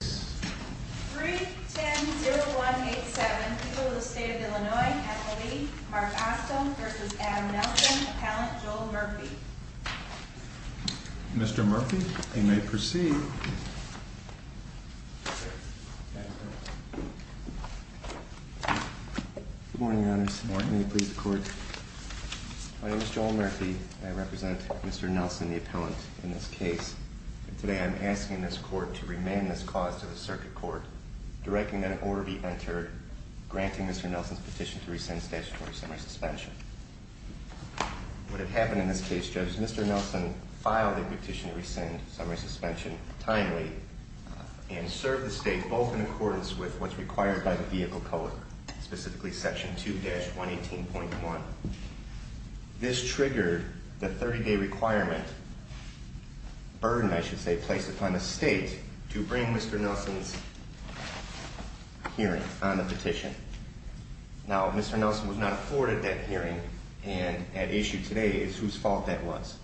310187, people of the state of Illinois at the lead, Mark Ostum v. M. Nelson, Appellant Joel Murphy Mr. Murphy, you may proceed Good morning, Your Honors. Good morning. May you please record. My name is Joel Murphy. I represent Mr. Nelson, the appellant in this case. Today I'm asking this court to remand this cause to the circuit court, directing that an order be entered, granting Mr. Nelson's petition to rescind statutory summary suspension. What had happened in this case, Judge, Mr. Nelson filed a petition to rescind summary suspension timely and serve the state both in accordance with what's required by the vehicle code, specifically Section 2-118.1. This triggered the 30-day requirement, burden I should say, placed upon the state to bring Mr. Nelson's hearing on the petition. Now, Mr. Nelson was not afforded that hearing and at issue today is whose fault that was.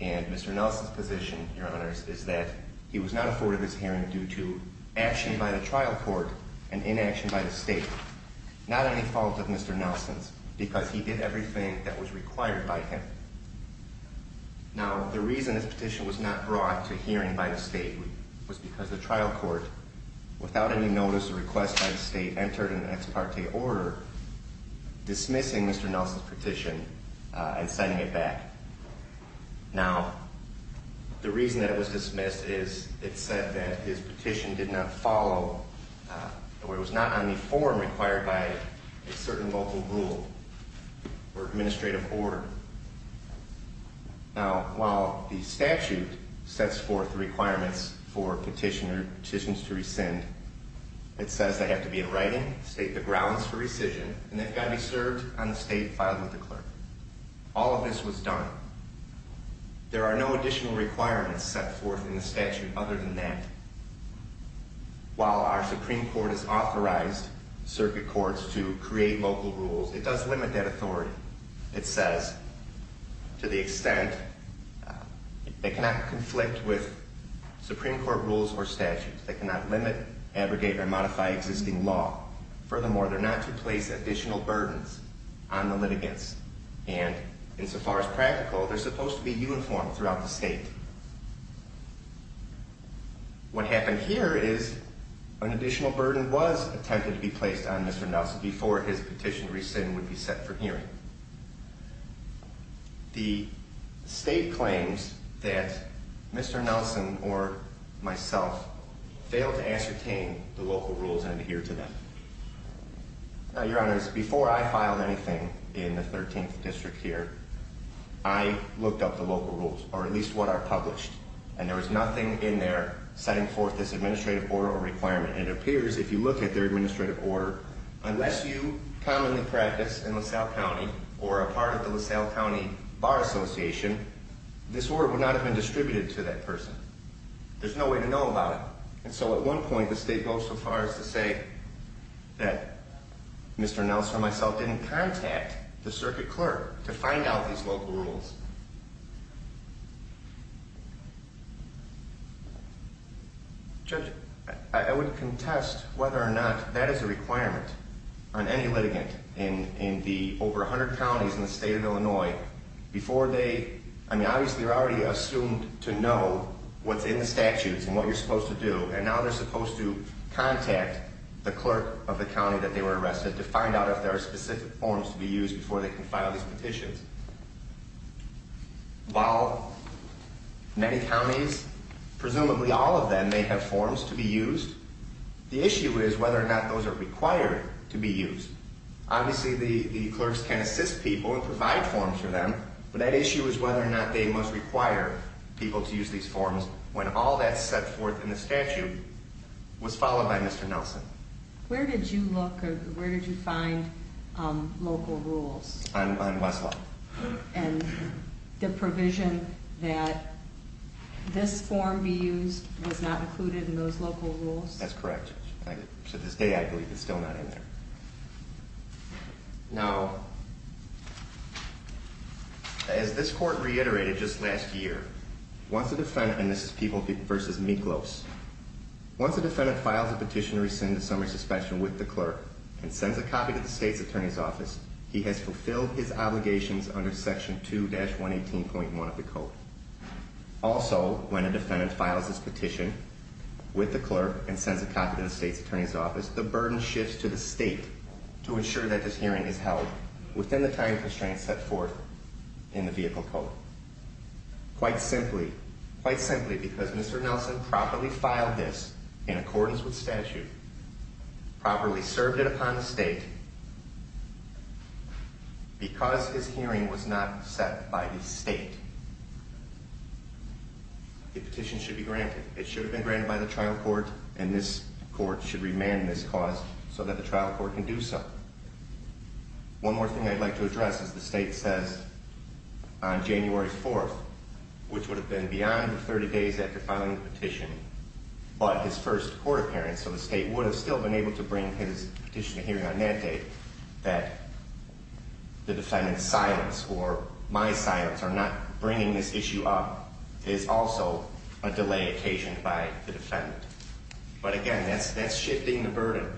And Mr. Nelson's position, Your Honors, is that he was not afforded this hearing due to action by the trial court and inaction by the state. Not any fault of Mr. Nelson's because he did everything that was required by him. Now, the reason this petition was not brought to hearing by the state was because the trial court, without any notice or request by the state, entered an ex parte order dismissing Mr. Nelson's petition and sending it back. Now, the reason that it was dismissed is it said that his petition did not follow, or it was not on the form required by a certain local rule or administrative order. Now, while the statute sets forth requirements for petitioner, petitions to rescind, it says they have to be in writing, state the grounds for rescission, and they've got to be served on the state file with the clerk. All of this was done. There are no additional requirements set forth in the statute other than that. While our Supreme Court has authorized circuit courts to create local rules, it does limit that authority. It says to the extent they cannot conflict with Supreme Court rules or statutes, they cannot limit, abrogate, or modify existing law. Furthermore, they're not to place additional burdens on the litigants, and insofar as practical, they're supposed to be uniform throughout the state. What happened here is an additional burden was attempted to be placed on Mr. Nelson before his petition to rescind would be set for hearing. The state claims that Mr. Nelson or myself failed to ascertain the local rules and adhere to them. Now, Your Honors, before I filed anything in the 13th District here, I looked up the local rules, or at least what are published, and there was nothing in there setting forth this administrative order or requirement. It appears, if you look at their administrative order, unless you commonly practice in LaSalle County or are a part of the LaSalle County Bar Association, this order would not have been distributed to that person. There's no way to know about it. And so at one point, the state goes so far as to say that Mr. Nelson or myself didn't contact the circuit clerk to find out these local rules. Judge, I would contest whether or not that is a requirement on any litigant in the over 100 counties in the state of Illinois before they, I mean, obviously they're already assumed to know what's in the statutes and what you're supposed to do, and now they're supposed to contact the clerk of the county that they were arrested to find out if there are specific forms to be used before they can file these petitions. While many counties, presumably all of them, may have forms to be used, the issue is whether or not those are required to be used. Obviously, the clerks can assist people and provide forms for them, but that issue is whether or not they must require people to use these forms when all that's set forth in the statute was followed by Mr. Nelson. Where did you look or where did you find local rules? On Westlaw. And the provision that this form be used was not included in those local rules? That's correct. To this day, I believe it's still not in there. Now, as this court reiterated just last year, once a defendant, and this is People v. Miklos, once a defendant files a petition to rescind the summary suspension with the clerk and sends a copy to the state's attorney's office, he has fulfilled his obligations under section 2-118.1 of the code. Also, when a defendant files his petition with the clerk and sends a copy to the state's attorney's office, the burden shifts to the state to ensure that this hearing is held within the time constraints set forth in the vehicle code. Quite simply, quite simply, because Mr. Nelson properly filed this in accordance with statute, properly served it upon the state, because his hearing was not set by the state, the petition should be granted. It should have been granted by the trial court, and this court should remand this cause so that the trial court can do so. One more thing I'd like to address is the state says on January 4th, which would have been beyond 30 days after filing the petition, but his first court appearance, so the state would have still been able to bring his petition to hearing on that date, that the defendant's silence or my silence or not bringing this issue up is also a delay occasioned by the defendant. But again, that's shifting the burden.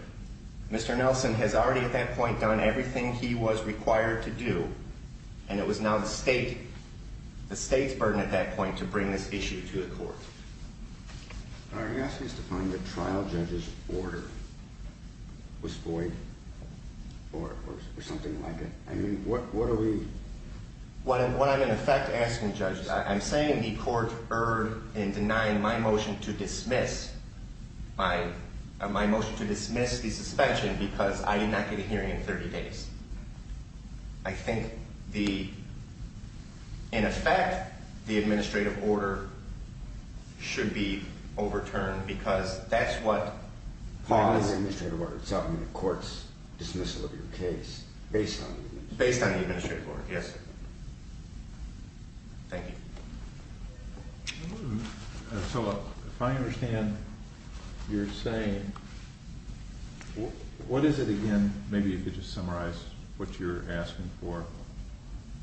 Mr. Nelson has already at that point done everything he was required to do, and it was now the state's burden at that point to bring this issue to the court. Are you asking us to find the trial judge's order was void or something like it? I mean, what are we... What I'm in effect asking, judges, I'm saying the court erred in denying my motion to dismiss, my motion to dismiss the suspension because I did not get a hearing in 30 days. I think the, in effect, the administrative order should be overturned because that's what... So, I mean, the court's dismissal of your case based on... Based on the administrative order. Yes, sir. Thank you. So, if I understand you're saying, what is it again? Maybe you could just summarize what you're asking for.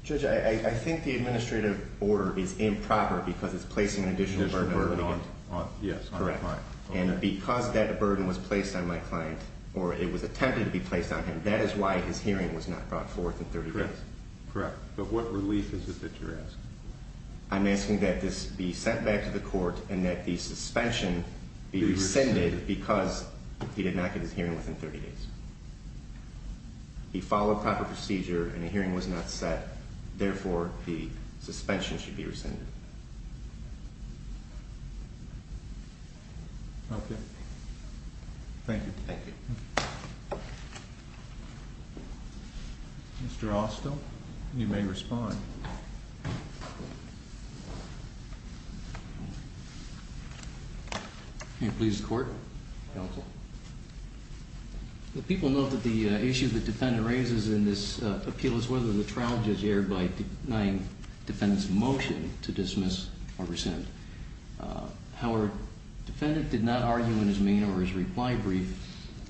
Judge, I think the administrative order is improper because it's placing an additional burden on the defendant. Yes, correct. And because that burden was placed on my client, or it was attempted to be placed on him, that is why his hearing was not brought forth in 30 days. Correct. But what relief is it that you're asking? I'm asking that this be sent back to the court and that the suspension be rescinded because he did not get his hearing within 30 days. He followed proper procedure and a hearing was not set. Therefore, the suspension should be rescinded. Okay. Thank you. Thank you. Mr. Austell, you may respond. Can you please, court? Counsel. The people note that the issue the defendant raises in this appeal is whether the trial judge erred by denying defendant's motion to dismiss or rescind. However, defendant did not argue in his main or his reply brief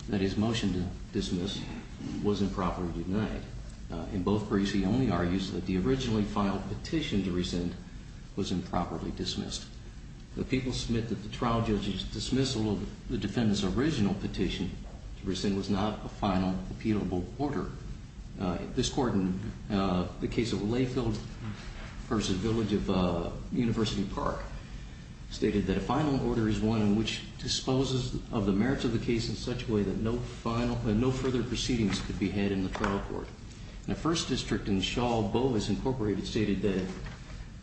that his motion to dismiss was improperly denied. In both briefs, he only argues that the originally filed petition to rescind was improperly dismissed. The people submit that the trial judge's dismissal of the defendant's original petition to rescind was not a final appealable order. This court in the case of Layfield v. Village of University Park stated that a final order is one in which disposes of the merits of the case in such a way that no further proceedings could be had in the trial court. In the first district in Shaw, Bovis Incorporated stated that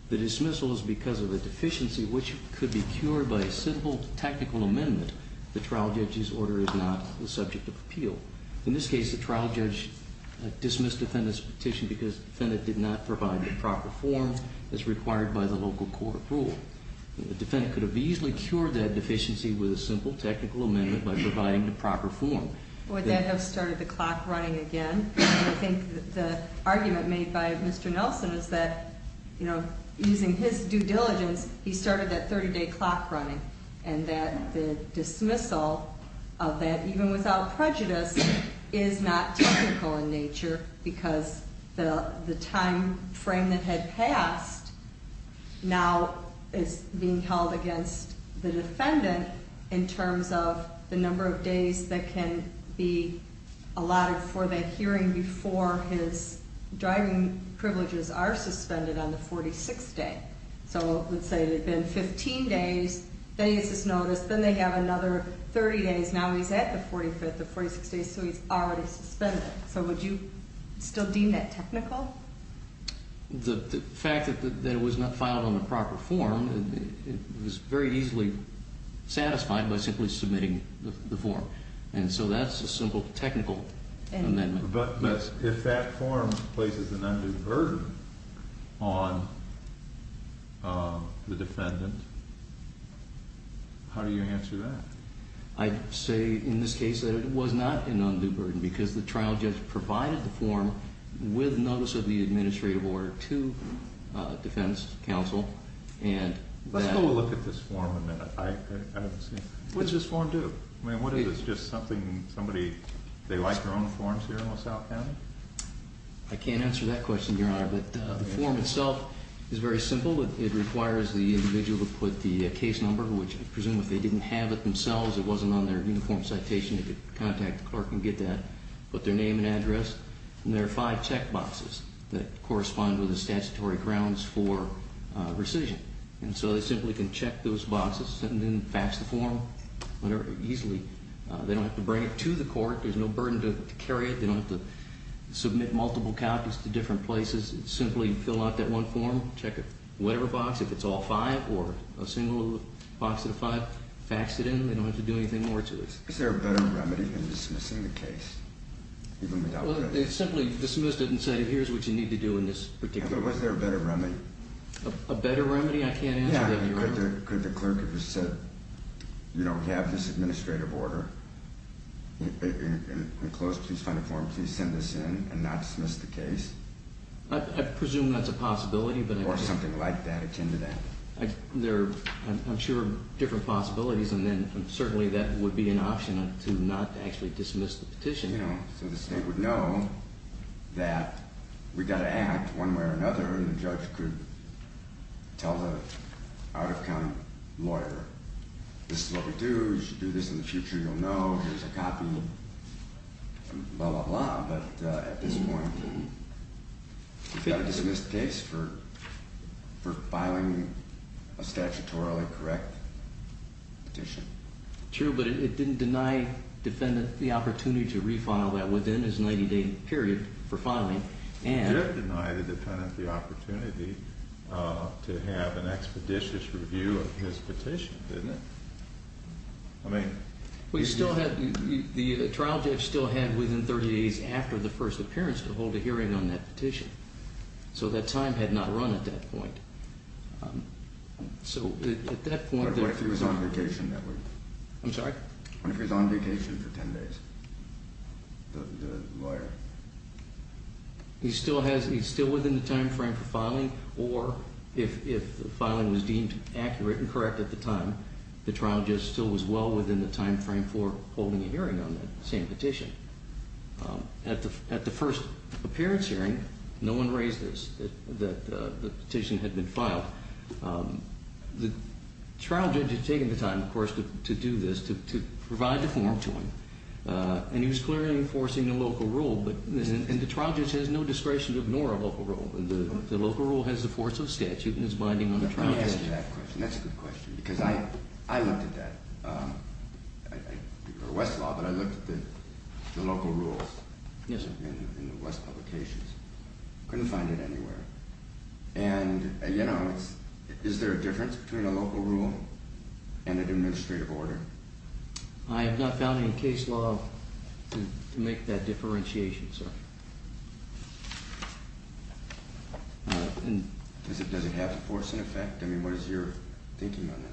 the dismissal is because of a deficiency which could be cured by a simple technical amendment. The trial judge's order is not the subject of appeal. In this case, the trial judge dismissed defendant's petition because defendant did not provide the proper form as required by the local court rule. The defendant could have easily cured that deficiency with a simple technical amendment by providing the proper form. Would that have started the clock running again? I think that the argument made by Mr. Nelson is that, you know, using his due diligence, he started that 30-day clock running. And that the dismissal of that, even without prejudice, is not technical in nature because the timeframe that had passed now is being held against the defendant in terms of the number of days that can be allotted for that hearing before his driving privileges are suspended on the 46th day. So, let's say it had been 15 days, then he gets this notice, then they have another 30 days, now he's at the 45th or 46th day, so he's already suspended. So would you still deem that technical? The fact that it was not filed on the proper form, it was very easily satisfied by simply submitting the form. And so that's a simple technical amendment. But if that form places an undue burden on the defendant, how do you answer that? I'd say in this case that it was not an undue burden because the trial judge provided the form with notice of the administrative order to defense counsel. Let's go look at this form a minute. What does this form do? I mean, what is this, just something somebody, they like their own forms here in LaSalle County? I can't answer that question, Your Honor, but the form itself is very simple. It requires the individual to put the case number, which I presume if they didn't have it themselves, it wasn't on their uniform citation, they could contact the clerk and get that, put their name and address. And there are five check boxes that correspond with the statutory grounds for rescission. And so they simply can check those boxes and then fax the form easily. They don't have to bring it to the court. There's no burden to carry it. They don't have to submit multiple copies to different places. Simply fill out that one form, check whatever box, if it's all five or a single box out of five, fax it in. They don't have to do anything more to it. Is there a better remedy than dismissing the case? Well, they simply dismissed it and said here's what you need to do in this particular case. Yeah, but was there a better remedy? A better remedy? I can't answer that, Your Honor. Could the clerk have just said, you know, we have this administrative order, and close, please find a form, please send this in and not dismiss the case? I presume that's a possibility. Or something like that, attend to that. There are, I'm sure, different possibilities, and then certainly that would be an option to not actually dismiss the petition. Yeah, so the state would know that we've got to act one way or another and the judge could tell the out-of-county lawyer this is what we do, you should do this in the future, you'll know, here's a copy, blah, blah, blah. But at this point, we've got to dismiss the case for filing a statutorily correct petition. True, but it didn't deny the defendant the opportunity to refile that within his 90-day period for filing. It did deny the defendant the opportunity to have an expeditious review of his petition, didn't it? I mean... We still had, the trial judge still had within 30 days after the first appearance to hold a hearing on that petition. So that time had not run at that point. So at that point... What if he was on vacation that week? I'm sorry? What if he was on vacation for 10 days, the lawyer? He's still within the time frame for filing, or if the filing was deemed accurate and correct at the time, the trial judge still was well within the time frame for holding a hearing on that same petition. At the first appearance hearing, no one raised this, that the petition had been filed. The trial judge had taken the time, of course, to do this, to provide the form to him, and he was clearly enforcing a local rule. And the trial judge has no discretion to ignore a local rule. The local rule has the force of statute and is binding on the trial judge. That's a good question, because I looked at that, or Westlaw, but I looked at the local rules in the West publications. Couldn't find it anywhere. And, you know, is there a difference between a local rule and an administrative order? I have not found any case law to make that differentiation, sir. Does it have the force and effect? I mean, what is your thinking on that?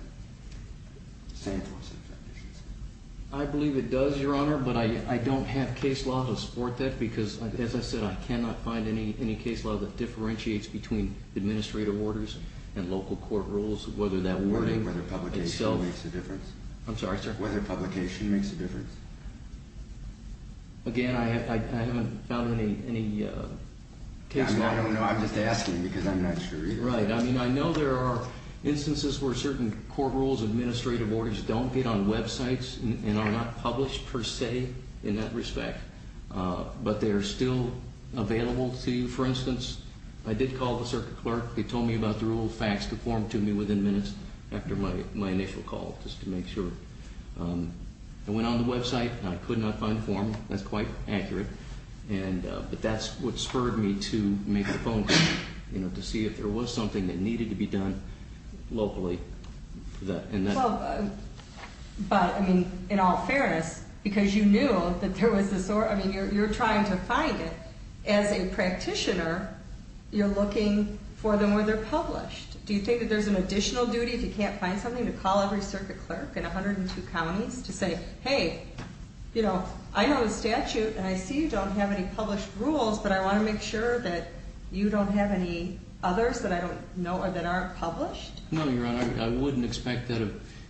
I believe it does, Your Honor, but I don't have case law to support that, because, as I said, I cannot find any case law that differentiates between administrative orders and local court rules, whether that wording itself. Whether publication makes a difference. I'm sorry, sir? Whether publication makes a difference. Again, I haven't found any case law. I don't know. I'm just asking because I'm not sure either. Right. I mean, I know there are instances where certain court rules, administrative orders, don't get on websites and are not published per se in that respect. But they are still available to you. For instance, I did call the circuit clerk. They told me about the rule. Faxed a form to me within minutes after my initial call, just to make sure. I went on the website, and I could not find the form. That's quite accurate. But that's what spurred me to make the phone call, you know, to see if there was something that needed to be done locally. But, I mean, in all fairness, because you knew that there was this order. I mean, you're trying to find it. As a practitioner, you're looking for them where they're published. Do you think that there's an additional duty, if you can't find something, to call every circuit clerk in 102 counties to say, hey, you know, I know the statute, and I see you don't have any published rules, but I want to make sure that you don't have any others that I don't know or that aren't published? No, Your Honor. I wouldn't expect that.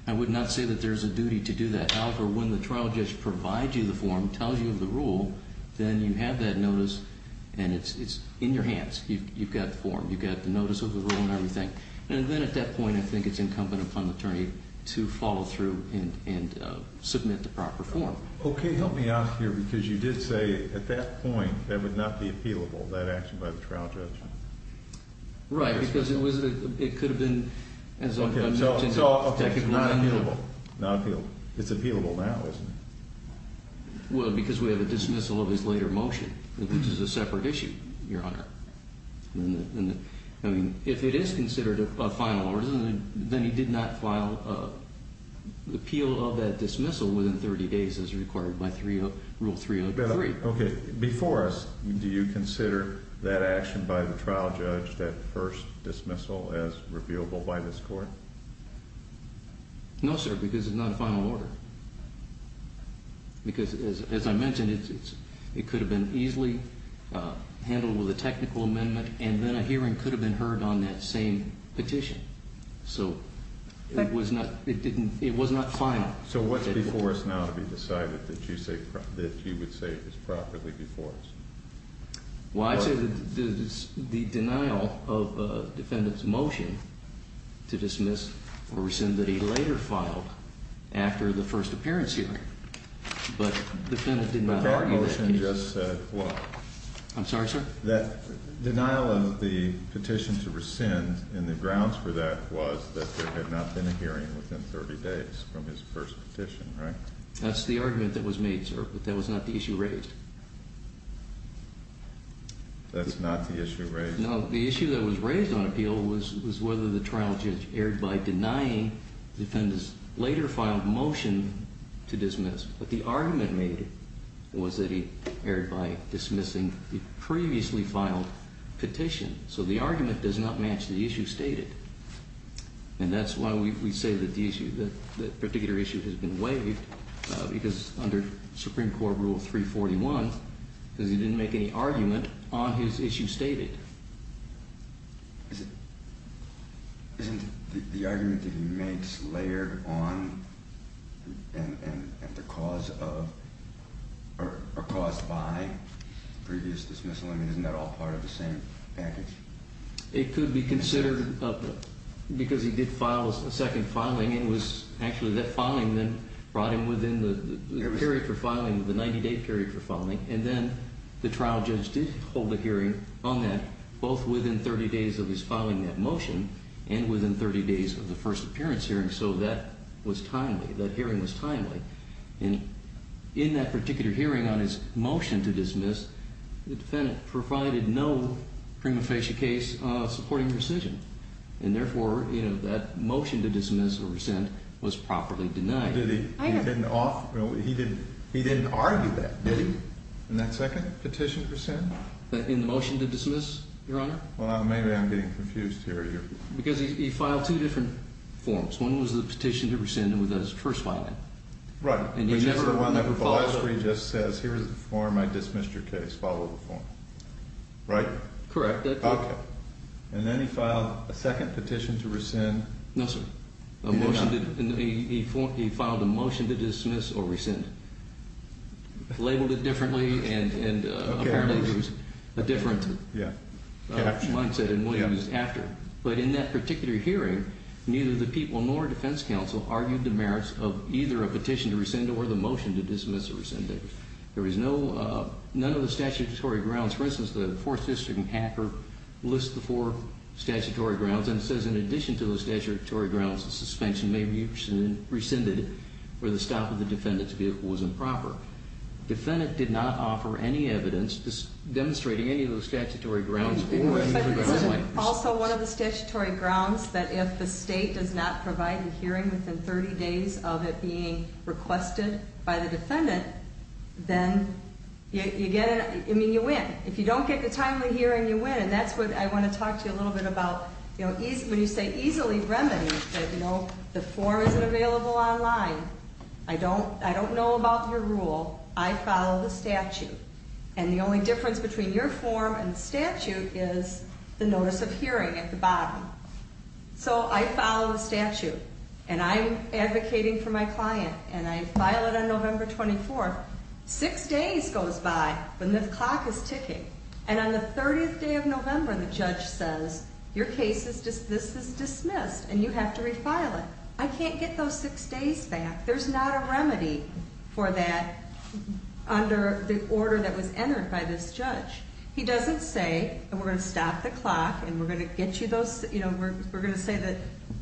I would not say that there's a duty to do that. However, when the trial judge provides you the form, tells you of the rule, then you have that notice, and it's in your hands. You've got the form. You've got the notice of the rule and everything. And then at that point, I think it's incumbent upon the attorney to follow through and submit the proper form. Okay. Help me out here, because you did say at that point that would not be appealable, that action by the trial judge. Right. Because it could have been, as I mentioned. Okay. So it's not appealable. Not appealable. It's appealable now, isn't it? Well, because we have a dismissal of his later motion, which is a separate issue, Your Honor. I mean, if it is considered a final order, then he did not file an appeal of that dismissal within 30 days as required by Rule 303. Okay. Before us, do you consider that action by the trial judge, that first dismissal, as reviewable by this court? No, sir, because it's not a final order. Because, as I mentioned, it could have been easily handled with a technical amendment, and then a hearing could have been heard on that same petition. So it was not final. So what's before us now to be decided that you would say is properly before us? Well, I'd say the denial of the defendant's motion to dismiss or rescind that he later filed after the first appearance hearing. But the defendant did not argue that case. That motion just said what? I'm sorry, sir? That denial of the petition to rescind, and the grounds for that was that there had not been a hearing within 30 days from his first petition, right? That's the argument that was made, sir, but that was not the issue raised. That's not the issue raised? No, the issue that was raised on appeal was whether the trial judge erred by denying the defendant's later filed motion to dismiss. But the argument made was that he erred by dismissing the previously filed petition. So the argument does not match the issue stated. And that's why we say that the issue, that particular issue has been waived, because under Supreme Court Rule 341, because he didn't make any argument on his issue stated. Isn't the argument that he makes layered on and the cause of or caused by previous dismissal, I mean, isn't that all part of the same package? It could be considered because he did file a second filing, and it was actually that filing that brought him within the period for filing, the 90-day period for filing. And then the trial judge did hold a hearing on that, both within 30 days of his filing that motion and within 30 days of the first appearance hearing, so that was timely. That hearing was timely. In that particular hearing on his motion to dismiss, the defendant provided no prima facie case supporting rescission, and therefore that motion to dismiss or rescind was properly denied. He didn't argue that, did he, in that second petition to rescind? In the motion to dismiss, Your Honor? Well, maybe I'm getting confused here. Because he filed two different forms. One was the petition to rescind, and that was the first filing. Right. Which is the one where he just says, Here is the form. I dismiss your case. Follow the form. Right? Correct. Okay. And then he filed a second petition to rescind. No, sir. He filed a motion to dismiss or rescind, labeled it differently, and apparently there was a different mindset in what he was after. But in that particular hearing, neither the people nor defense counsel argued the merits of either a petition to rescind or the motion to dismiss or rescind it. There was no, none of the statutory grounds. For instance, the fourth district in Hacker lists the four statutory grounds and says in addition to the statutory grounds of suspension, maybe you rescinded it where the stop of the defendant's vehicle was improper. The defendant did not offer any evidence demonstrating any of those statutory grounds. Also, one of the statutory grounds that if the state does not provide a hearing within 30 days of it being requested by the defendant, then you get, I mean, you win. If you don't get the timely hearing, you win. And that's what I want to talk to you a little bit about. When you say easily remedied, you know, the form isn't available online. I don't know about your rule. I follow the statute. And the only difference between your form and the statute is the notice of hearing at the bottom. So I follow the statute. And I'm advocating for my client. And I file it on November 24th. Six days goes by when the clock is ticking. And on the 30th day of November, the judge says, your case is, this is dismissed and you have to refile it. I can't get those six days back. There's not a remedy for that under the order that was entered by this judge. He doesn't say, we're going to stop the clock and we're going to get you those, you know, we're going to say that,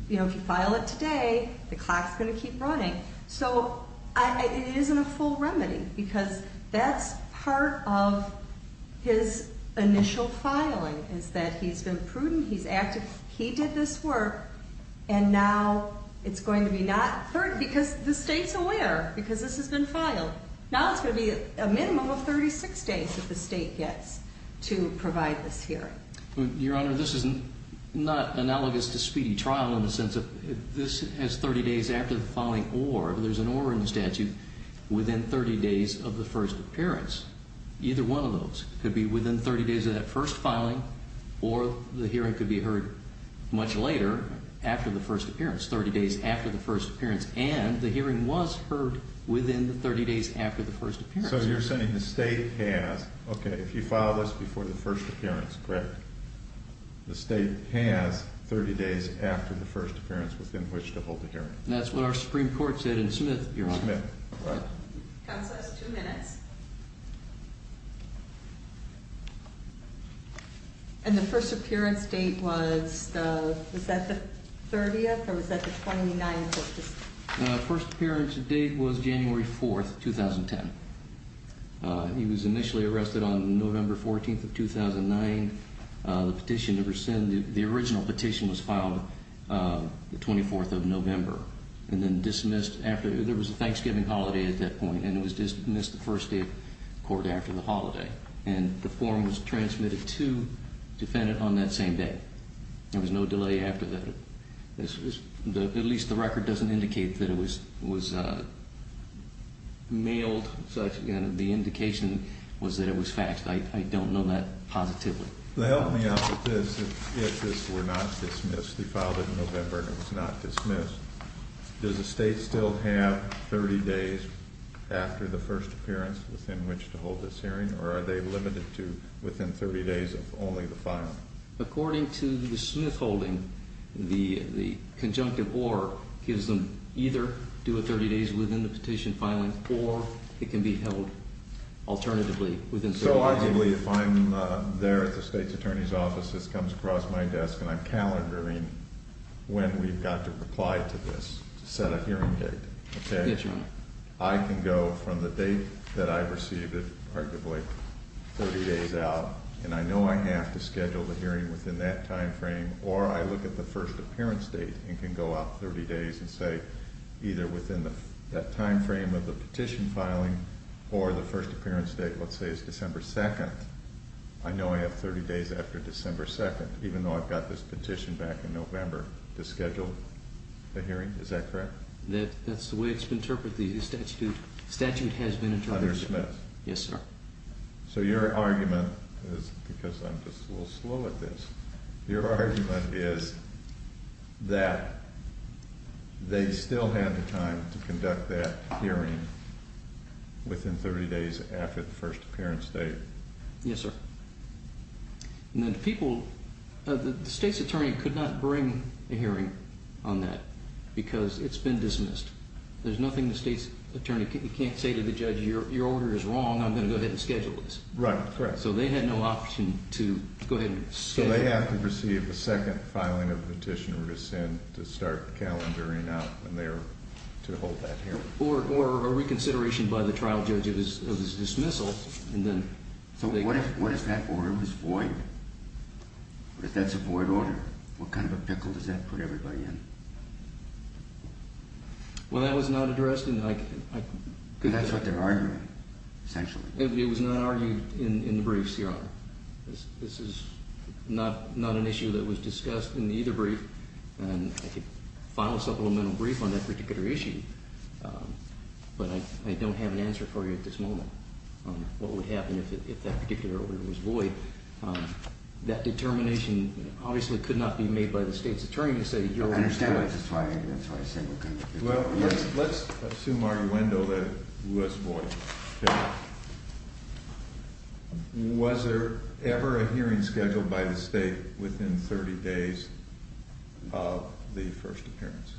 you know, if you file it today, the clock's going to keep running. So it isn't a full remedy because that's part of his initial filing is that he's been prudent, he's active. He did this work. And now it's going to be not 30, because the state's aware, because this has been filed. Now it's going to be a minimum of 36 days that the state gets to provide this hearing. Your Honor, this is not analogous to speedy trial in the sense that this has 30 days after the filing or there's an or in the statute within 30 days of the first appearance. Either one of those could be within 30 days of that first filing or the hearing could be heard much later after the first appearance, 30 days after the first appearance. And the hearing was heard within the 30 days after the first appearance. So you're saying the state has, okay, if you file this before the first appearance, correct? The state has 30 days after the first appearance within which to hold the hearing. That's what our Supreme Court said in Smith, Your Honor. Counsel has two minutes. And the first appearance date was, was that the 30th or was that the 29th? The first appearance date was January 4th, 2010. He was initially arrested on November 14th of 2009. The petition, the original petition was filed the 24th of November. And then dismissed after, there was a Thanksgiving holiday at that point and it was dismissed the first day of court after the holiday. And the form was transmitted to the defendant on that same day. There was no delay after that. At least the record doesn't indicate that it was mailed. The indication was that it was faxed. I don't know that positively. Help me out with this. If this were not dismissed, he filed it in November and it was not dismissed. Does the state still have 30 days after the first appearance within which to hold this hearing? Or are they limited to within 30 days of only the filing? According to the Smith holding, the conjunctive or gives them either do a 30 days within the petition filing or it can be held alternatively within 30 days. So arguably if I'm there at the state's attorney's office, this comes across my desk and I'm calendaring when we've got to reply to this to set a hearing date. Okay? I can go from the date that I received it, arguably 30 days out. And I know I have to schedule the hearing within that time frame. Or I look at the first appearance date and can go out 30 days and say either within that time frame of the petition filing or the first appearance date, let's say it's December 2nd. I know I have 30 days after December 2nd, even though I've got this petition back in November to schedule the hearing. Is that correct? That's the way it's been interpreted. The statute has been interpreted. Under Smith. Yes, sir. So your argument is because I'm just a little slow at this. Your argument is that they still have the time to conduct that hearing within 30 days after the first appearance date. Yes, sir. And then people, the state's attorney could not bring a hearing on that because it's been dismissed. There's nothing the state's attorney can't say to the judge. Your order is wrong. I'm going to go ahead and schedule this. Right. Correct. So they had no option to go ahead and schedule. So they have to receive a second filing of the petition or dissent to start calendaring out when they're to hold that hearing. Or a reconsideration by the trial judge of his dismissal. So what if that order was void? What if that's a void order? What kind of a pickle does that put everybody in? Well, that was not addressed. That's what they're arguing, essentially. It was not argued in the briefs, Your Honor. This is not an issue that was discussed in either brief. And I could file a supplemental brief on that particular issue. But I don't have an answer for you at this moment on what would happen if that particular order was void. That determination obviously could not be made by the state's attorney to say your order is void. That's why I said what kind of a pickle. Well, let's assume arguendo that it was void. Yeah. Was there ever a hearing scheduled by the state within 30 days of the first appearance?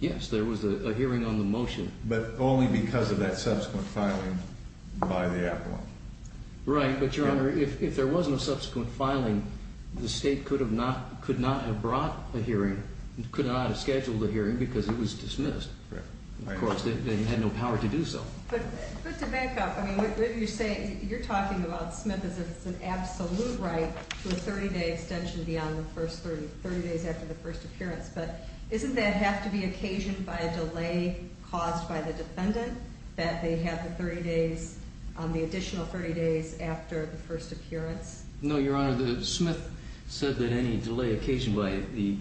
Yes, there was a hearing on the motion. But only because of that subsequent filing by the appellant. Right. But, Your Honor, if there wasn't a subsequent filing, the state could not have brought a hearing, could not have scheduled a hearing because it was dismissed. Right. Of course, they had no power to do so. But to back up, I mean, what you're saying, you're talking about Smith as if it's an absolute right to a 30-day extension beyond the first 30 days after the first appearance. But doesn't that have to be occasioned by a delay caused by the defendant that they have the 30 days, the additional 30 days after the first appearance? No, Your Honor. Smith said that any delay occasioned by the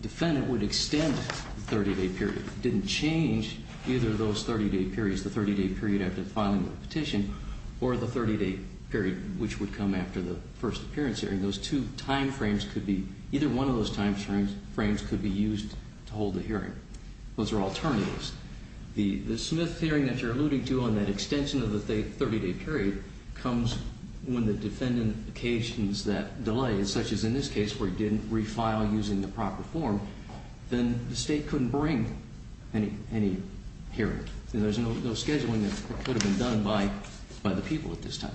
defendant would extend the 30-day period. It didn't change either of those 30-day periods, the 30-day period after filing the petition or the 30-day period which would come after the first appearance hearing. Those two time frames could be, either one of those time frames could be used to hold the hearing. Those are alternatives. The Smith hearing that you're alluding to on that extension of the 30-day period comes when the defendant occasions that delay, such as in this case where it didn't refile using the proper form, then the state couldn't bring any hearing. There's no scheduling that could have been done by the people at this time.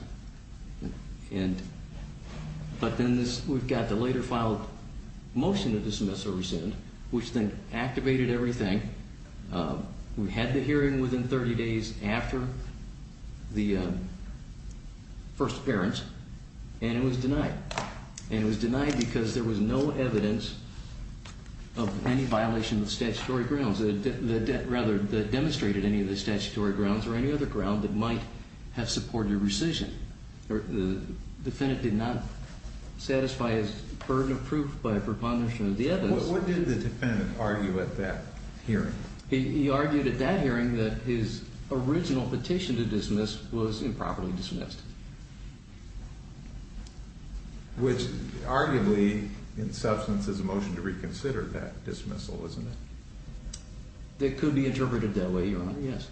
But then we've got the later filed motion to dismiss or rescind, which then activated everything. We had the hearing within 30 days after the first appearance, and it was denied. And it was denied because there was no evidence of any violation of statutory grounds, rather, that demonstrated any of the statutory grounds or any other ground that might have supported rescission. The defendant did not satisfy his burden of proof by a preponderance of the evidence. What did the defendant argue at that hearing? He argued at that hearing that his original petition to dismiss was improperly dismissed. Which arguably, in substance, is a motion to reconsider that dismissal, isn't it? It could be interpreted that way, Your Honor, yes.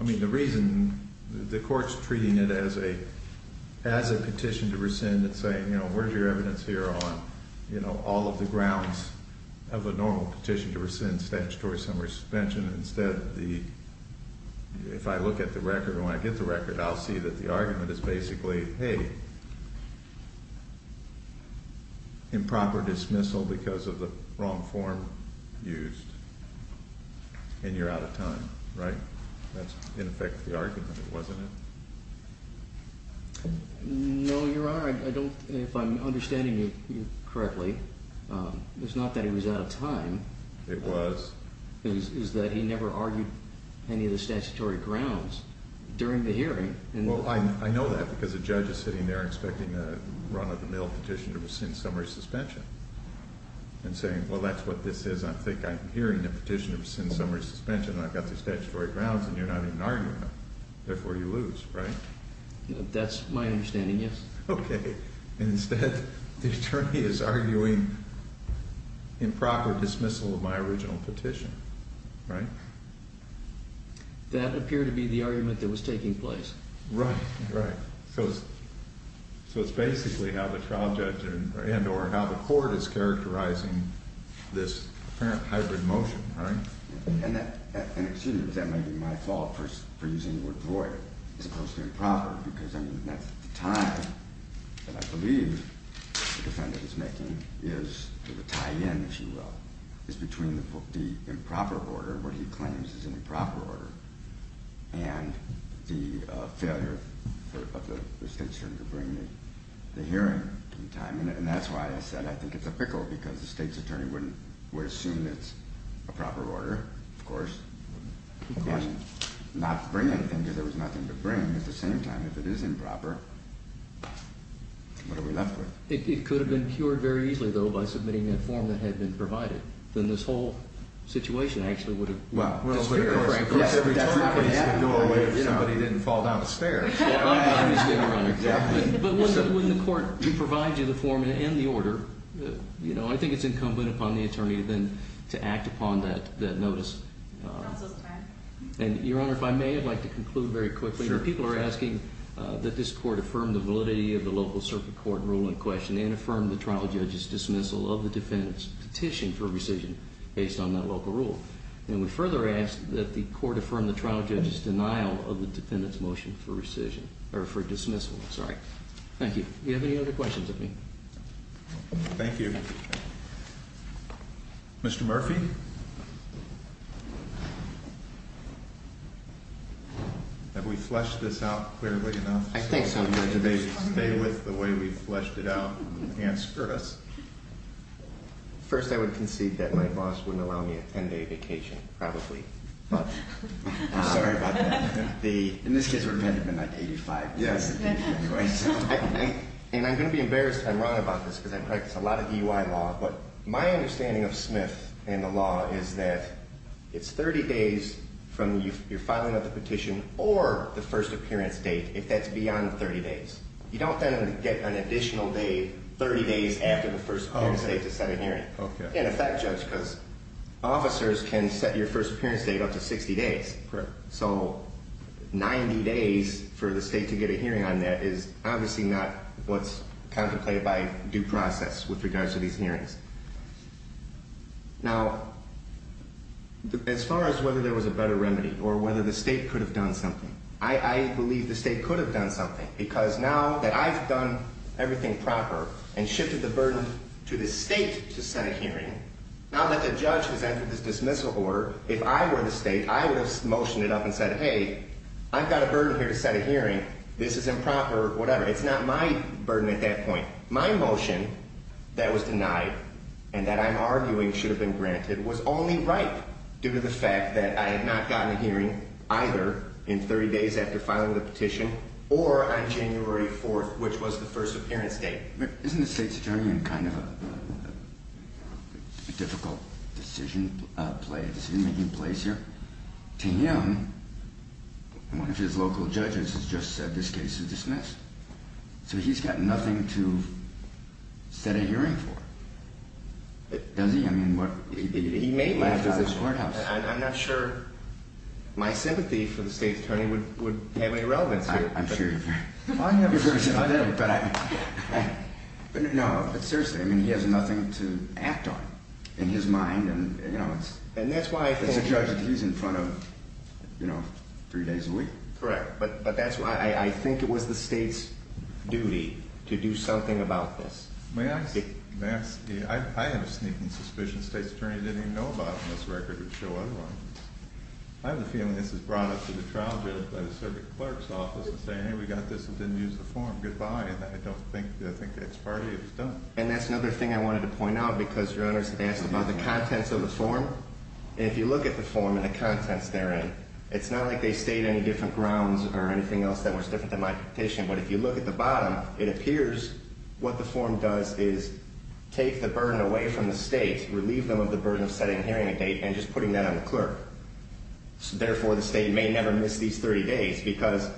I mean, the reason the court's treating it as a petition to rescind and saying, you know, where's your evidence here on all of the grounds of a normal petition to rescind statutory summary suspension instead of the, if I look at the record and when I get the record, I'll see that the argument is basically, hey, improper dismissal because of the wrong form used, and you're out of time, right? That's, in effect, the argument, wasn't it? No, Your Honor, I don't, if I'm understanding you correctly, it's not that he was out of time. It was. It was that he never argued any of the statutory grounds during the hearing. Well, I know that because the judge is sitting there expecting a run-of-the-mill petition to rescind summary suspension and saying, well, that's what this is, I think I'm hearing the petition to rescind summary suspension and I've got the statutory grounds and you're not even arguing them, therefore you lose, right? That's my understanding, yes. Okay. Instead, the attorney is arguing improper dismissal of my original petition, right? That appeared to be the argument that was taking place. Right, right. So it's basically how the trial judge and or how the court is characterizing this apparent hybrid motion, right? And that, excuse me, that may be my fault for using the word void as opposed to improper because, I mean, that's the time that I believe the defendant is making is the tie-in, if you will, is between the improper order, what he claims is an improper order, and the failure of the state's attorney to bring the hearing in time. And that's why I said I think it's a pickle because the state's attorney would assume it's a proper order, of course. Of course. Again, not bring anything because there was nothing to bring. At the same time, if it is improper, what are we left with? It could have been cured very easily, though, by submitting that form that had been provided. Then this whole situation actually would have been a little bit different. Well, just here, of course, everybody's going to go away if somebody didn't fall down the stairs. Exactly. But when the court provides you the form and the order, you know, I think it's incumbent upon the attorney then to act upon that notice. And, Your Honor, if I may, I'd like to conclude very quickly. Sure. People are asking that this court affirm the validity of the local circuit court rule in question and affirm the trial judge's dismissal of the defendant's petition for rescission based on that local rule. And we further ask that the court affirm the trial judge's denial of the defendant's motion for rescission, or for dismissal. Sorry. Thank you. Do you have any other questions of me? Thank you. Mr. Murphy? Have we fleshed this out clearly enough? I think so. Stay with the way we fleshed it out and answer us. First, I would concede that my boss wouldn't allow me a 10-day vacation, probably. I'm sorry about that. In this case, repent would have been like 85. And I'm going to be embarrassed if I'm wrong about this because I practice a lot of DUI law, but my understanding of Smith and the law is that it's 30 days from your filing of the petition or the first appearance date, if that's beyond 30 days. You don't then get an additional 30 days after the first appearance date to set a hearing. In effect, Judge, because officers can set your first appearance date up to 60 days. Correct. So 90 days for the state to get a hearing on that is obviously not what's contemplated by due process with regards to these hearings. Now, as far as whether there was a better remedy or whether the state could have done something, I believe the state could have done something because now that I've done everything proper and shifted the burden to the state to set a hearing, now that the judge has entered this dismissal order, if I were the state, I would have motioned it up and said, hey, I've got a burden here to set a hearing. This is improper, whatever. It's not my burden at that point. My motion that was denied and that I'm arguing should have been granted was only right due to the fact that I had not gotten a hearing either in 30 days after filing the petition or on January 4th, which was the first appearance date. Isn't the state's attorney in kind of a difficult decision making place here? To him, one of his local judges has just said this case is dismissed. So he's got nothing to set a hearing for, does he? He may have left his courthouse. I'm not sure my sympathy for the state attorney would have any relevance here. I'm sure you're very sympathetic. No, but seriously, he has nothing to act on in his mind. And that's why I think he's in front of three days a week. Correct. But that's why I think it was the state's duty to do something about this. May I ask? I have a sneaking suspicion the state's attorney didn't even know about it in this record. It would show otherwise. I have a feeling this was brought up to the trial by the circuit clerk's office and saying, hey, we got this and didn't use the form. Goodbye. And I don't think that's part of it. It was done. And that's another thing I wanted to point out because your Honor has asked about the contents of the form. And if you look at the form and the contents therein, it's not like they state any different grounds or anything else that was different than my petition. But if you look at the bottom, it appears what the form does is take the burden away from the state, relieve them of the burden of setting a hearing date, and just putting that on the clerk. Therefore, the state may never miss these 30 days because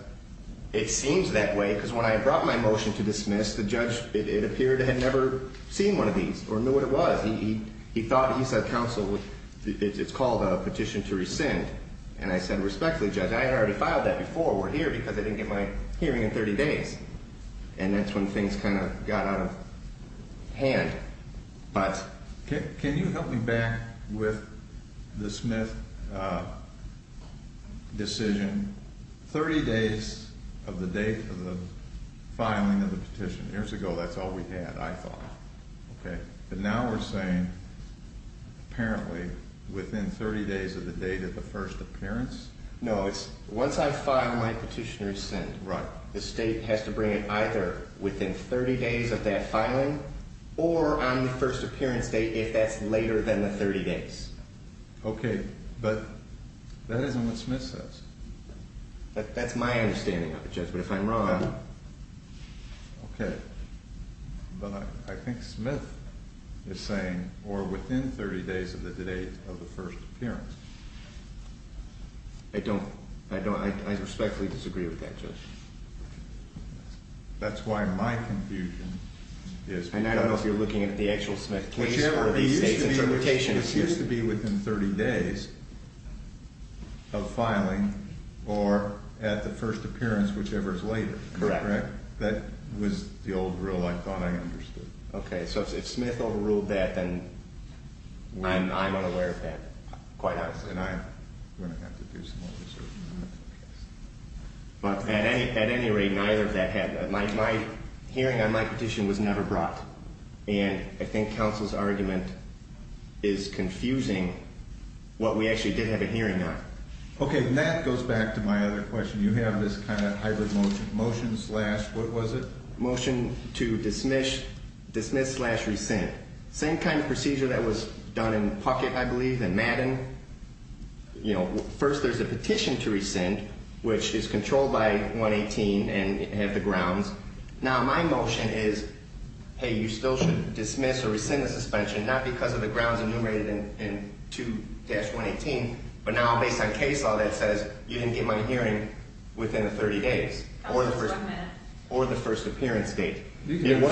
it seems that way. Because when I brought my motion to dismiss, the judge, it appeared, had never seen one of these or knew what it was. He thought he said counsel, it's called a petition to rescind. And I said, respectfully, Judge, I had already filed that before. I filed it before here because I didn't get my hearing in 30 days. And that's when things kind of got out of hand. Can you help me back with the Smith decision? 30 days of the date of the filing of the petition. Years ago, that's all we had, I thought. But now we're saying apparently within 30 days of the date of the first appearance? No, it's once I file my petition to rescind. Right. The state has to bring it either within 30 days of that filing or on the first appearance date if that's later than the 30 days. Okay. But that isn't what Smith says. That's my understanding of it, Judge. But if I'm wrong... Okay. But I think Smith is saying or within 30 days of the date of the first appearance. I respectfully disagree with that, Judge. That's why my confusion is... And I don't know if you're looking at the actual Smith case or the state's interpretation. This used to be within 30 days of filing or at the first appearance, whichever is later. Correct. That was the old rule I thought I understood. Okay. So if Smith overruled that, then I'm unaware of that, quite honestly. And I'm going to have to do some more research on that case. But at any rate, neither of that happened. My hearing on my petition was never brought. And I think counsel's argument is confusing what we actually did have a hearing on. Okay. And that goes back to my other question. You have this kind of hybrid motion. Motion slash what was it? Motion to dismiss slash rescind. Same kind of procedure that was done in Puckett, I believe, and Madden. You know, first there's a petition to rescind, which is controlled by 118 and have the grounds. Now, my motion is, hey, you still should dismiss or rescind the suspension, not because of the grounds enumerated in 2-118. But now based on case law that says you didn't get my hearing within 30 days or the first appearance date. You can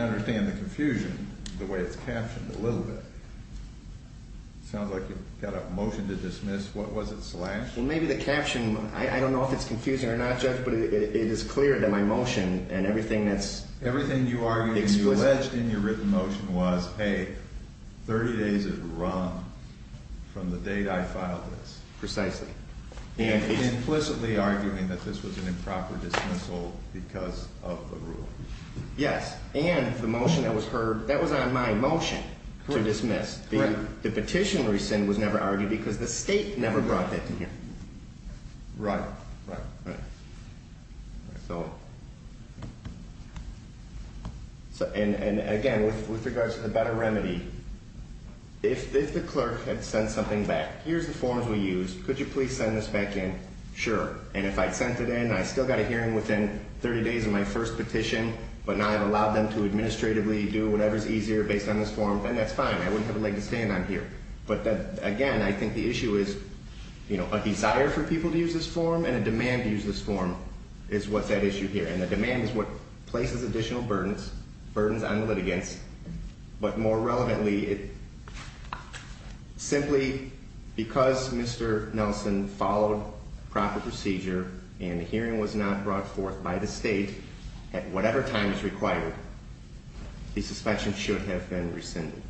understand the confusion the way it's captioned a little bit. It sounds like you've got a motion to dismiss. What was it? Slash? Maybe the caption. I don't know if it's confusing or not, Judge, but it is clear that my motion and everything that's explicit. What you argued and you alleged in your written motion was, hey, 30 days is wrong from the date I filed this. Precisely. And implicitly arguing that this was an improper dismissal because of the rule. Yes. And the motion that was heard, that was on my motion to dismiss. Correct. The petition rescind was never argued because the state never brought that to hear. Right. Right. So, and again, with regards to the better remedy, if the clerk had sent something back, here's the forms we used. Could you please send this back in? Sure. And if I sent it in, I still got a hearing within 30 days of my first petition, but now I've allowed them to administratively do whatever's easier based on this form, then that's fine. I wouldn't have a leg to stand on here. But again, I think the issue is, you know, a desire for people to use this form and a demand to use this form is what's at issue here. And the demand is what places additional burdens, burdens on the litigants. But more relevantly, simply because Mr. Nelson followed proper procedure and the hearing was not brought forth by the state at whatever time is required, the suspension should have been rescinded.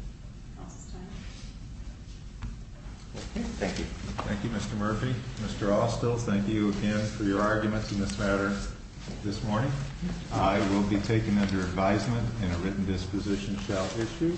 Thank you. Thank you, Mr. Murphy. Mr. Austell, thank you again for your arguments in this matter this morning. I will be taken under advisement in a written disposition shall issue.